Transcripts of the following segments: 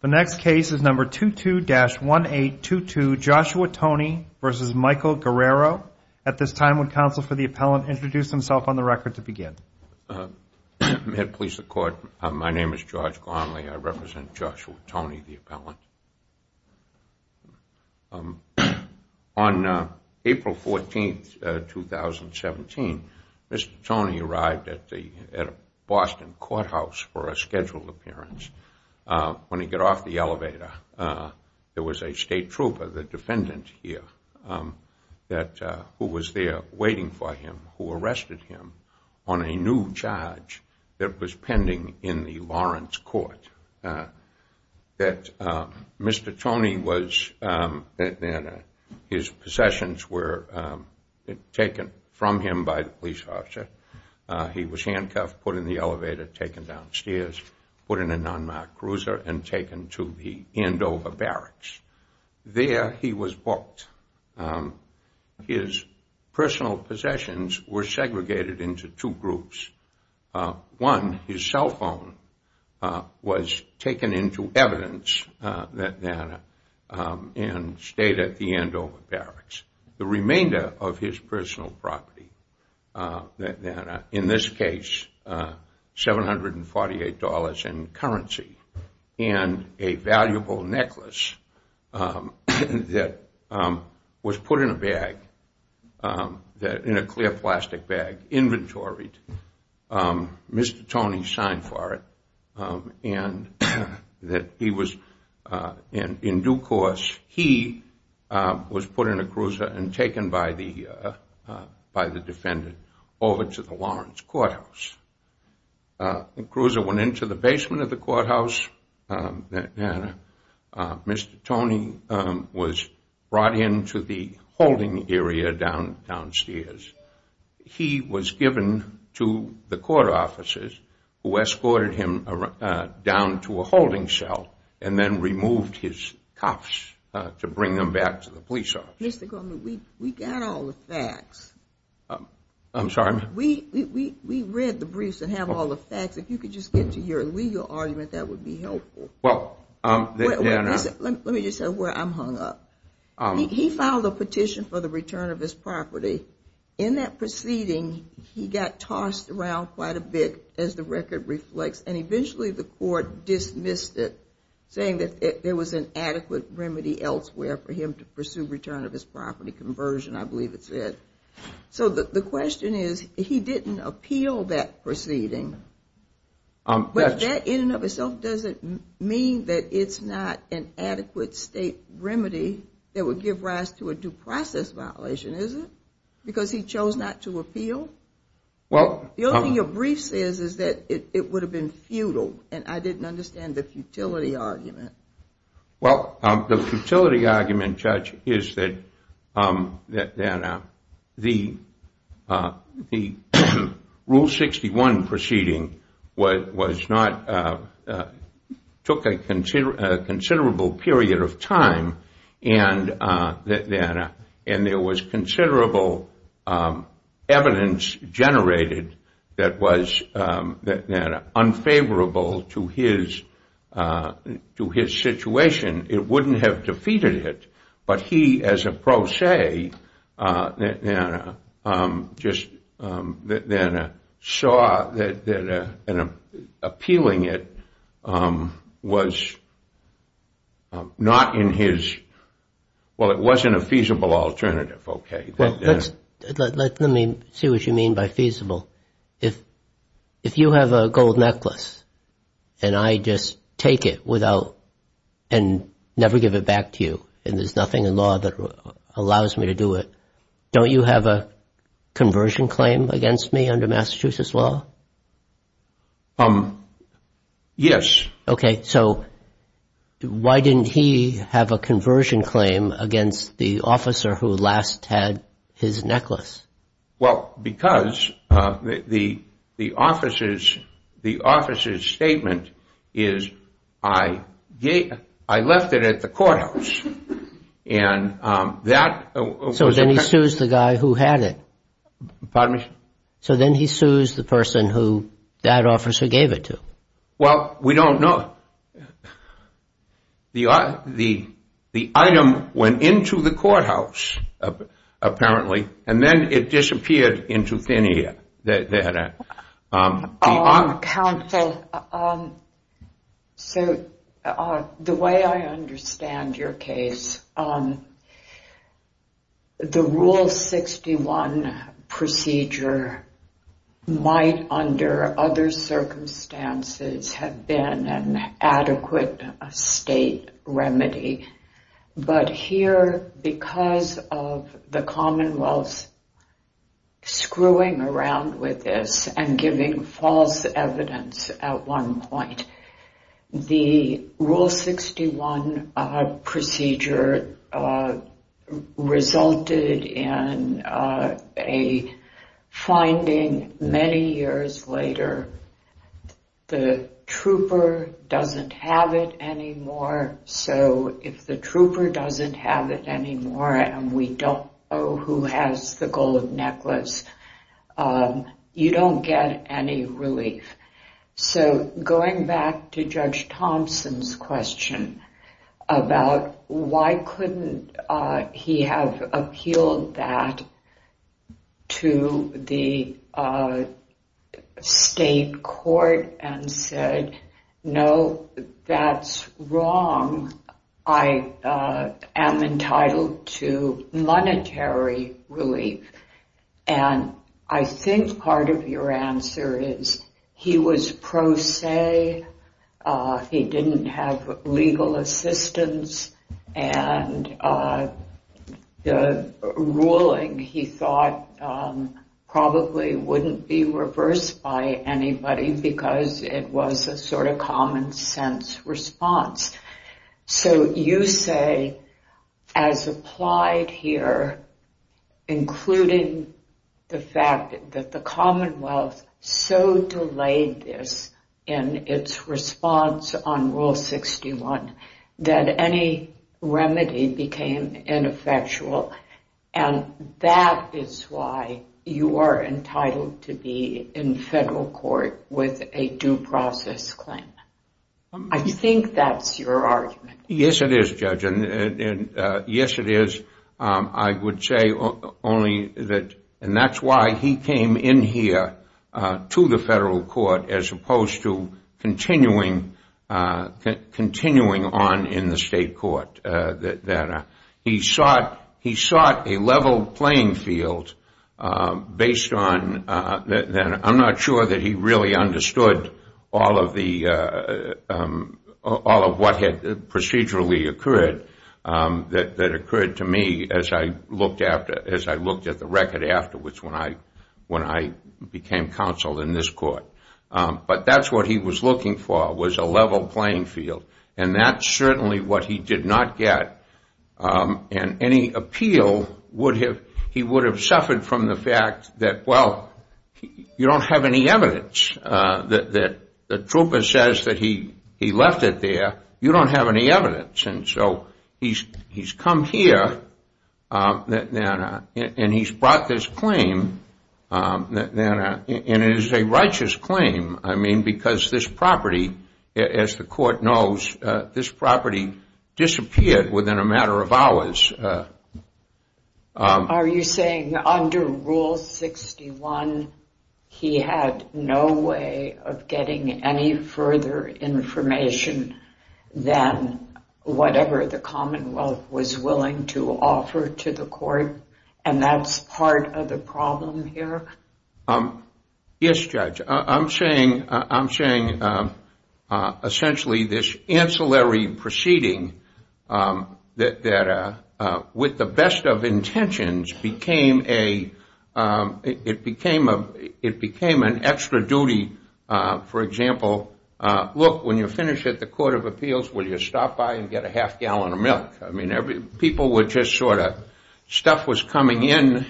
The next case is number 22-1822, Joshua Toney v. Michael Guerriero. At this time, would counsel for the appellant introduce himself on the record to begin? May it please the Court, my name is George Garnley. I represent Joshua Toney, the appellant. On April 14, 2017, Mr. Toney arrived at a Boston courthouse for a scheduled appearance. When he got off the elevator, there was a state trooper, the defendant here, who was there waiting for him, who arrested him on a new charge that was pending in the Lawrence court. Mr. Toney was, his possessions were taken from him by the police officer. He was handcuffed, put in the elevator, taken downstairs, put in a non-marked cruiser, and taken to the Andover barracks. There he was booked. His personal possessions were segregated into two groups. One, his cell phone was taken into evidence and stayed at the Andover barracks. The remainder of his personal property, in this case $748 in currency, and a valuable necklace that was put in a bag, in a clear plastic bag, inventoried. Mr. Toney signed for it. And in due course, he was put in a cruiser and taken by the defendant over to the Lawrence courthouse. The cruiser went into the basement of the courthouse. Mr. Toney was brought into the holding area downstairs. He was given to the court officers who escorted him down to a holding cell and then removed his cuffs to bring him back to the police office. Mr. Goldman, we got all the facts. I'm sorry, ma'am? We read the briefs and have all the facts. If you could just get to your legal argument, that would be helpful. Let me just say where I'm hung up. He filed a petition for the return of his property. In that proceeding, he got tossed around quite a bit, as the record reflects, and eventually the court dismissed it, saying that there was an adequate remedy elsewhere for him to pursue return of his property conversion, I believe it said. So the question is, he didn't appeal that proceeding, but that in and of itself doesn't mean that it's not an adequate state remedy that would give rise to a due process violation, is it? Because he chose not to appeal? The only thing your brief says is that it would have been futile, and I didn't understand the futility argument. Well, the futility argument, Judge, is that the Rule 61 proceeding took a considerable period of time, and there was considerable evidence generated that was unfavorable to his situation. It wouldn't have defeated it, but he, as a pro se, just saw that appealing it was not in his, well, it wasn't a feasible alternative, okay. Let me see what you mean by feasible. If you have a gold necklace, and I just take it without, and never give it back to you, and there's nothing in law that allows me to do it, don't you have a conversion claim against me under Massachusetts law? Yes. Okay, so why didn't he have a conversion claim against the officer who last had his necklace? Well, because the officer's statement is, I left it at the courthouse, and that was a So then he sues the guy who had it. Pardon me? So then he sues the person who that officer gave it to. Well, we don't know. The item went into the courthouse, apparently, and then it disappeared into thin air. Counsel, so the way I understand your case, the Rule 61 procedure might, under other circumstances, have been an adequate state remedy, but here, because of the Commonwealth screwing around with this and giving false evidence at one point, the Rule 61 procedure resulted in a finding many years later, where the trooper doesn't have it anymore, so if the trooper doesn't have it anymore, and we don't know who has the gold necklace, you don't get any relief. So going back to Judge Thompson's question about why couldn't he have appealed that to the state court and said, no, that's wrong, I am entitled to monetary relief, and I think part of your answer is he was pro se, he didn't have legal assistance, and the ruling, he thought, probably wouldn't be reversed by anybody because it was a sort of common sense response. So you say, as applied here, including the fact that the Commonwealth so delayed this in its response on Rule 61, that any remedy became ineffectual, and that is why you are entitled to be in federal court with a due process claim. I think that's your argument. Yes, it is, Judge, and yes, it is. I would say only that, and that's why he came in here to the federal court as opposed to continuing on in the state court. He sought a level playing field based on, I'm not sure that he really understood all of what had procedurally occurred, that occurred to me as I looked at the record afterwards when I became counsel in this court, but that's what he was looking for, was a level playing field, and that's certainly what he did not get, and any appeal he would have suffered from the fact that, well, you don't have any evidence. The trooper says that he left it there. You don't have any evidence, and so he's come here and he's brought this claim, and it is a righteous claim, I mean, because this property, as the court knows, this property disappeared within a matter of hours. Are you saying under Rule 61 he had no way of getting any further information than whatever the Commonwealth was willing to offer to the court, and that's part of the problem here? Yes, Judge. I'm saying essentially this ancillary proceeding that with the best of intentions became an extra duty. For example, look, when you're finished at the Court of Appeals, will you stop by and get a half gallon of milk? I mean, people were just sort of, stuff was coming in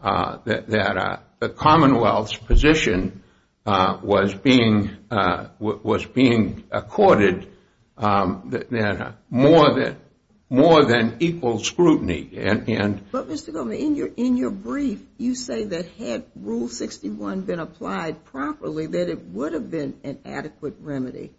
that the Commonwealth's position was being accorded more than equal scrutiny. But, Mr. Goldman, in your brief, you say that had Rule 61 been applied properly, that it would have been an adequate remedy.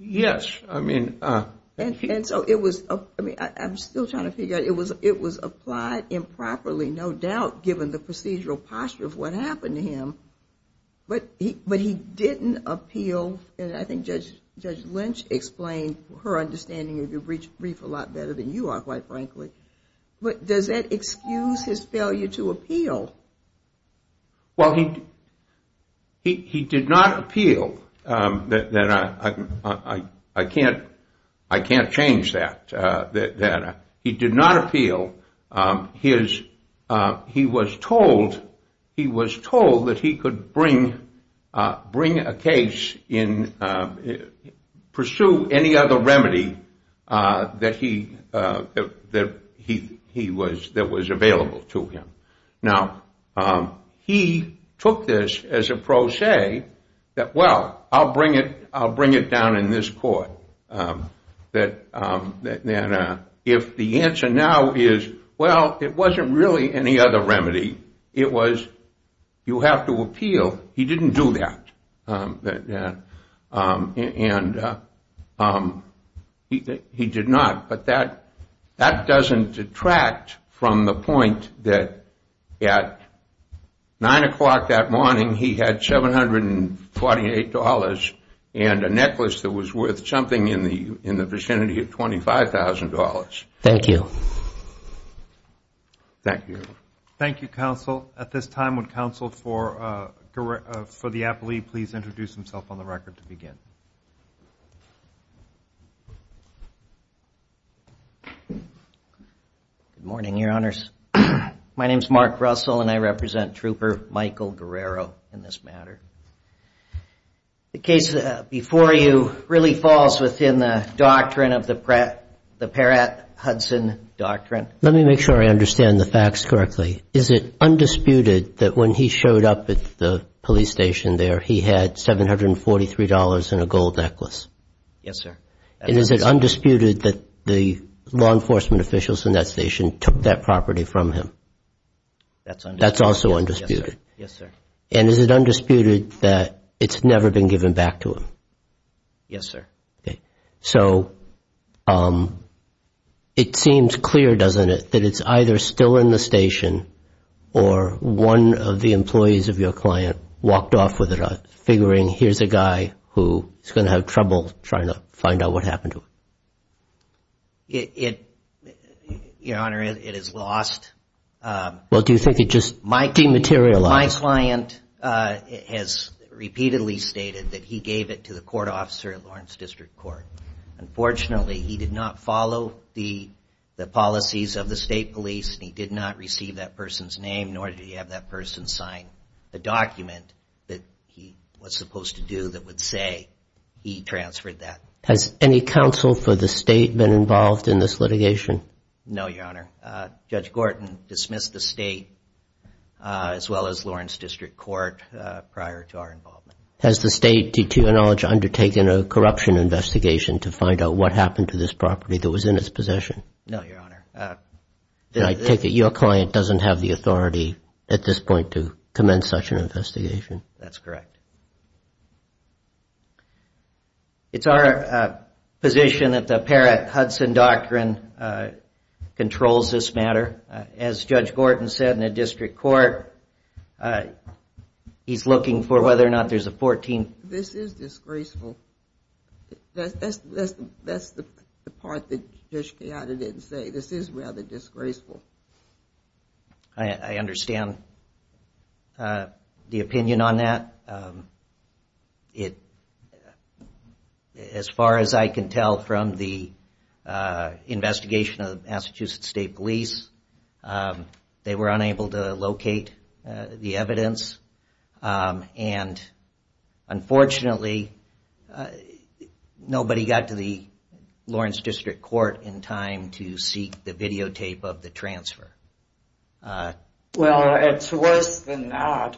Yes. And so it was, I mean, I'm still trying to figure out, it was applied improperly, no doubt, given the procedural posture of what happened to him, but he didn't appeal, and I think Judge Lynch explained her understanding of your brief a lot better than you are, quite frankly. But does that excuse his failure to appeal? Well, he did not appeal. I can't change that. He did not appeal. He was told that he could bring a case in, pursue any other remedy that was available to him. Now, he took this as a pro se, that, well, I'll bring it down in this court. If the answer now is, well, it wasn't really any other remedy, it was you have to appeal, he didn't do that. And he did not. But that doesn't detract from the point that at 9 o'clock that morning, he had $748 and a necklace that was worth something in the vicinity of $25,000. Thank you. Thank you. Thank you, counsel. At this time, would counsel for the appellee please introduce himself on the record to begin? Good morning, Your Honors. My name is Mark Russell, and I represent Trooper Michael Guerrero in this matter. The case before you really falls within the doctrine of the Peratt-Hudson doctrine. Let me make sure I understand the facts correctly. Is it undisputed that when he showed up at the police station there, he had $743 and a gold necklace? Yes, sir. And is it undisputed that the law enforcement officials in that station took that property from him? That's undisputed. That's also undisputed. Yes, sir. And is it undisputed that it's never been given back to him? Yes, sir. So it seems clear, doesn't it, that it's either still in the station, or one of the employees of your client walked off with it, figuring here's a guy who is going to have trouble trying to find out what happened to it. Your Honor, it is lost. Well, do you think it just dematerialized? My client has repeatedly stated that he gave it to the court officer at Lawrence District Court. Unfortunately, he did not follow the policies of the state police, and he did not receive that person's name, nor did he have that person sign the document that he was supposed to do that would say he transferred that. Has any counsel for the state been involved in this litigation? No, Your Honor. Judge Gorton dismissed the state as well as Lawrence District Court prior to our involvement. Has the state, to your knowledge, undertaken a corruption investigation to find out what happened to this property that was in its possession? No, Your Honor. Then I take it your client doesn't have the authority at this point to commence such an investigation. That's correct. It's our position that the Parrott-Hudson Doctrine controls this matter. As Judge Gorton said in the District Court, he's looking for whether or not there's a 14th... This is disgraceful. That's the part that Judge Chiata didn't say. This is rather disgraceful. I understand the opinion on that. As far as I can tell from the investigation of Massachusetts State Police, they were unable to locate the evidence. Unfortunately, nobody got to the Lawrence District Court in time to seek the videotape of the transfer. Well, it's worse than that.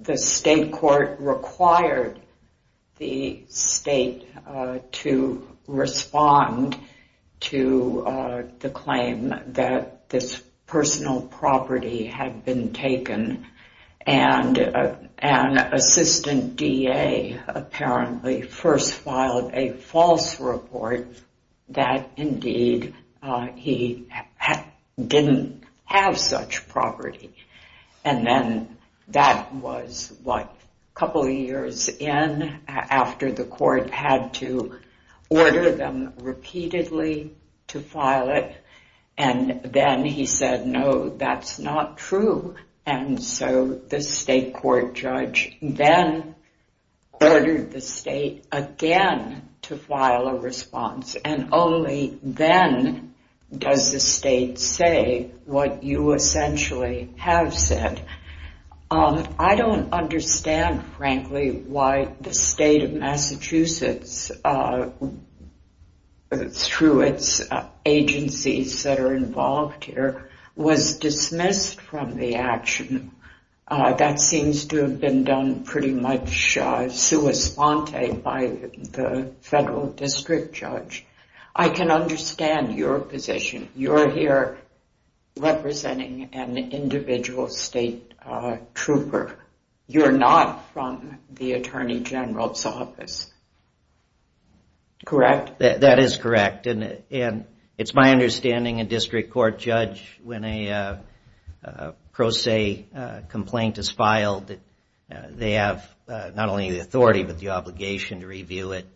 The state court required the state to respond to the claim that this personal property had been taken. An assistant DA apparently first filed a false report that indeed he didn't have such property. Then that was a couple of years in after the court had to order them repeatedly to file it. Then he said, no, that's not true. The state court judge then ordered the state again to file a response. Only then does the state say what you essentially have said. I don't understand, frankly, why the state of Massachusetts, through its agencies that are involved here, was dismissed from the action. That seems to have been done pretty much sua sponte by the federal district judge. I can understand your position. You're here representing an individual state trooper. You're not from the Attorney General's office, correct? That is correct. It's my understanding a district court judge, when a pro se complaint is filed, they have not only the authority but the obligation to review it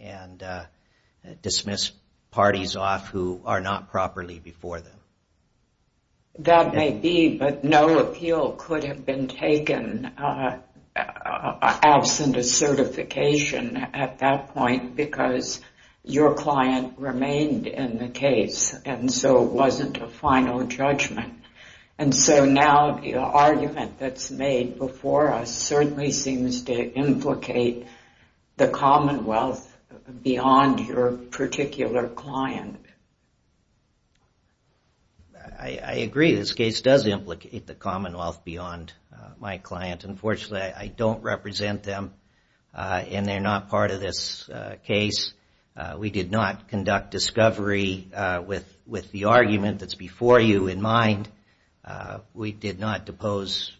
and dismiss parties off who are not properly before them. That may be, but no appeal could have been taken absent a certification at that point because your client remained in the case and so it wasn't a final judgment. Now the argument that's made before us certainly seems to implicate the Commonwealth beyond your particular client. I agree. This case does implicate the Commonwealth beyond my client. Unfortunately, I don't represent them and they're not part of this case. We did not conduct discovery with the argument that's before you in mind. We did not depose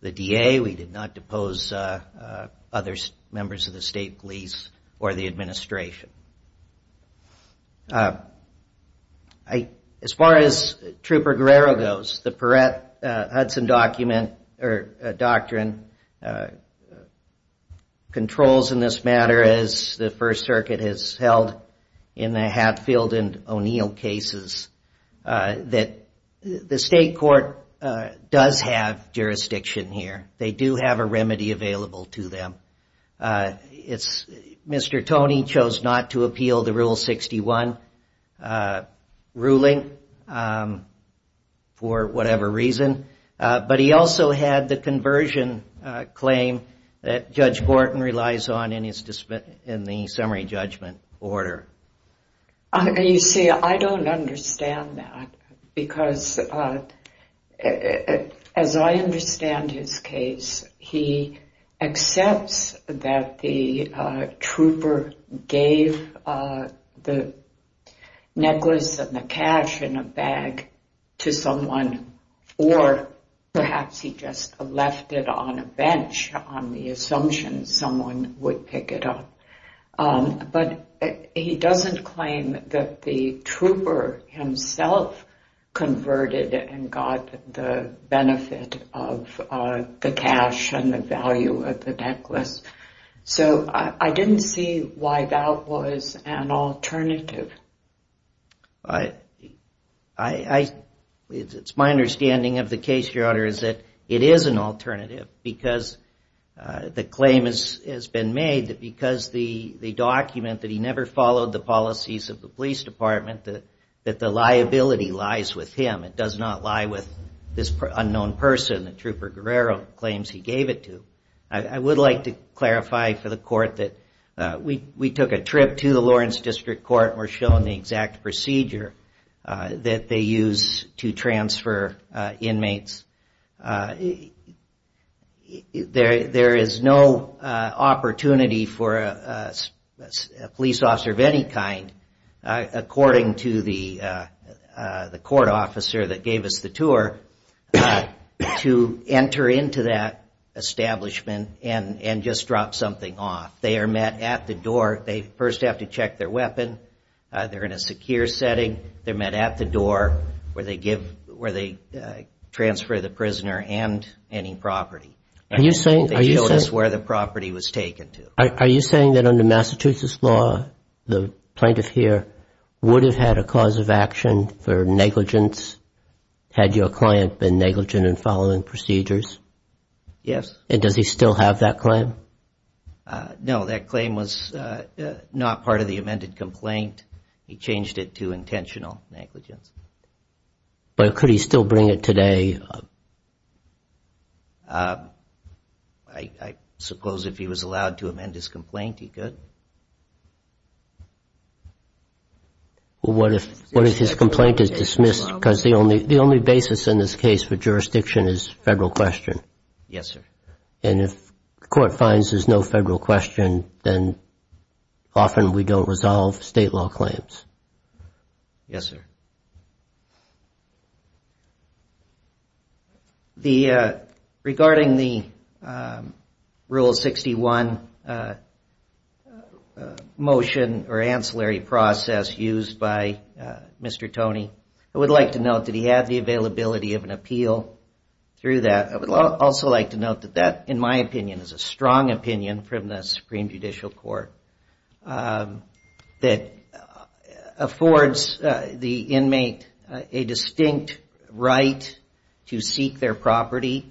the DA. We did not depose other members of the state police or the administration. As far as Trooper Guerrero goes, the Perrette-Hudson Doctrine controls in this matter, as the First Circuit has held in the Hatfield and O'Neill cases, that the state court does have jurisdiction here. They do have a remedy available to them. Mr. Toney chose not to appeal the Rule 61 ruling for whatever reason, but he also had the conversion claim that Judge Borton relies on in the summary judgment order. You see, I don't understand that because as I understand his case, he accepts that the trooper gave the necklace and the cash in a bag to someone or perhaps he just left it on a bench on the assumption someone would pick it up. But he doesn't claim that the trooper himself converted and got the benefit of the cash and the value of the necklace. So I didn't see why that was an alternative. It's my understanding of the case, Your Honor, is that it is an alternative because the claim has been made that because the document that he never followed the policies of the police department, that the liability lies with him. It does not lie with this unknown person that Trooper Guerrero claims he gave it to. I would like to clarify for the court that we took a trip to the Lawrence District Court and were shown the exact procedure that they use to transfer inmates. There is no opportunity for a police officer of any kind, according to the court officer that gave us the tour, to enter into that establishment and just drop something off. They are met at the door. They first have to check their weapon. They're in a secure setting. They're met at the door where they transfer the prisoner and any property. They notice where the property was taken to. Are you saying that under Massachusetts law, the plaintiff here would have had a cause of action for negligence had your client been negligent in following procedures? Yes. Does he still have that claim? No, that claim was not part of the amended complaint. He changed it to intentional negligence. But could he still bring it today? I suppose if he was allowed to amend his complaint, he could. What if his complaint is dismissed because the only basis in this case for jurisdiction is federal question? Yes, sir. And if the court finds there's no federal question, then often we don't resolve state law claims. Yes, sir. Regarding the Rule 61 motion or ancillary process used by Mr. Toney, I would like to note that he had the availability of an appeal through that. I would also like to note that that, in my opinion, is a strong opinion from the Supreme Judicial Court that affords the inmate a distinct right to seek their property.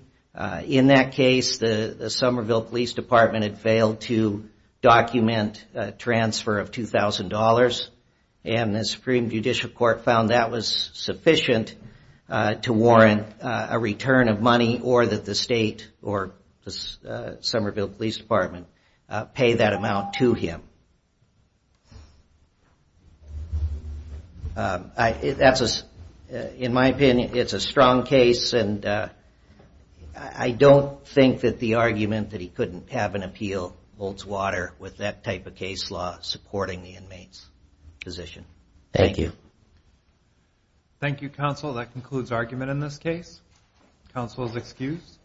In that case, the Somerville Police Department had failed to document a transfer of $2,000. And the Supreme Judicial Court found that was sufficient to warrant a return of money or that the state or the Somerville Police Department pay that amount to him. In my opinion, it's a strong case, and I don't think that the argument that he couldn't have an appeal holds water with that type of case law supporting the inmate's position. Thank you. Thank you, Counsel. That concludes argument in this case. Counsel is excused.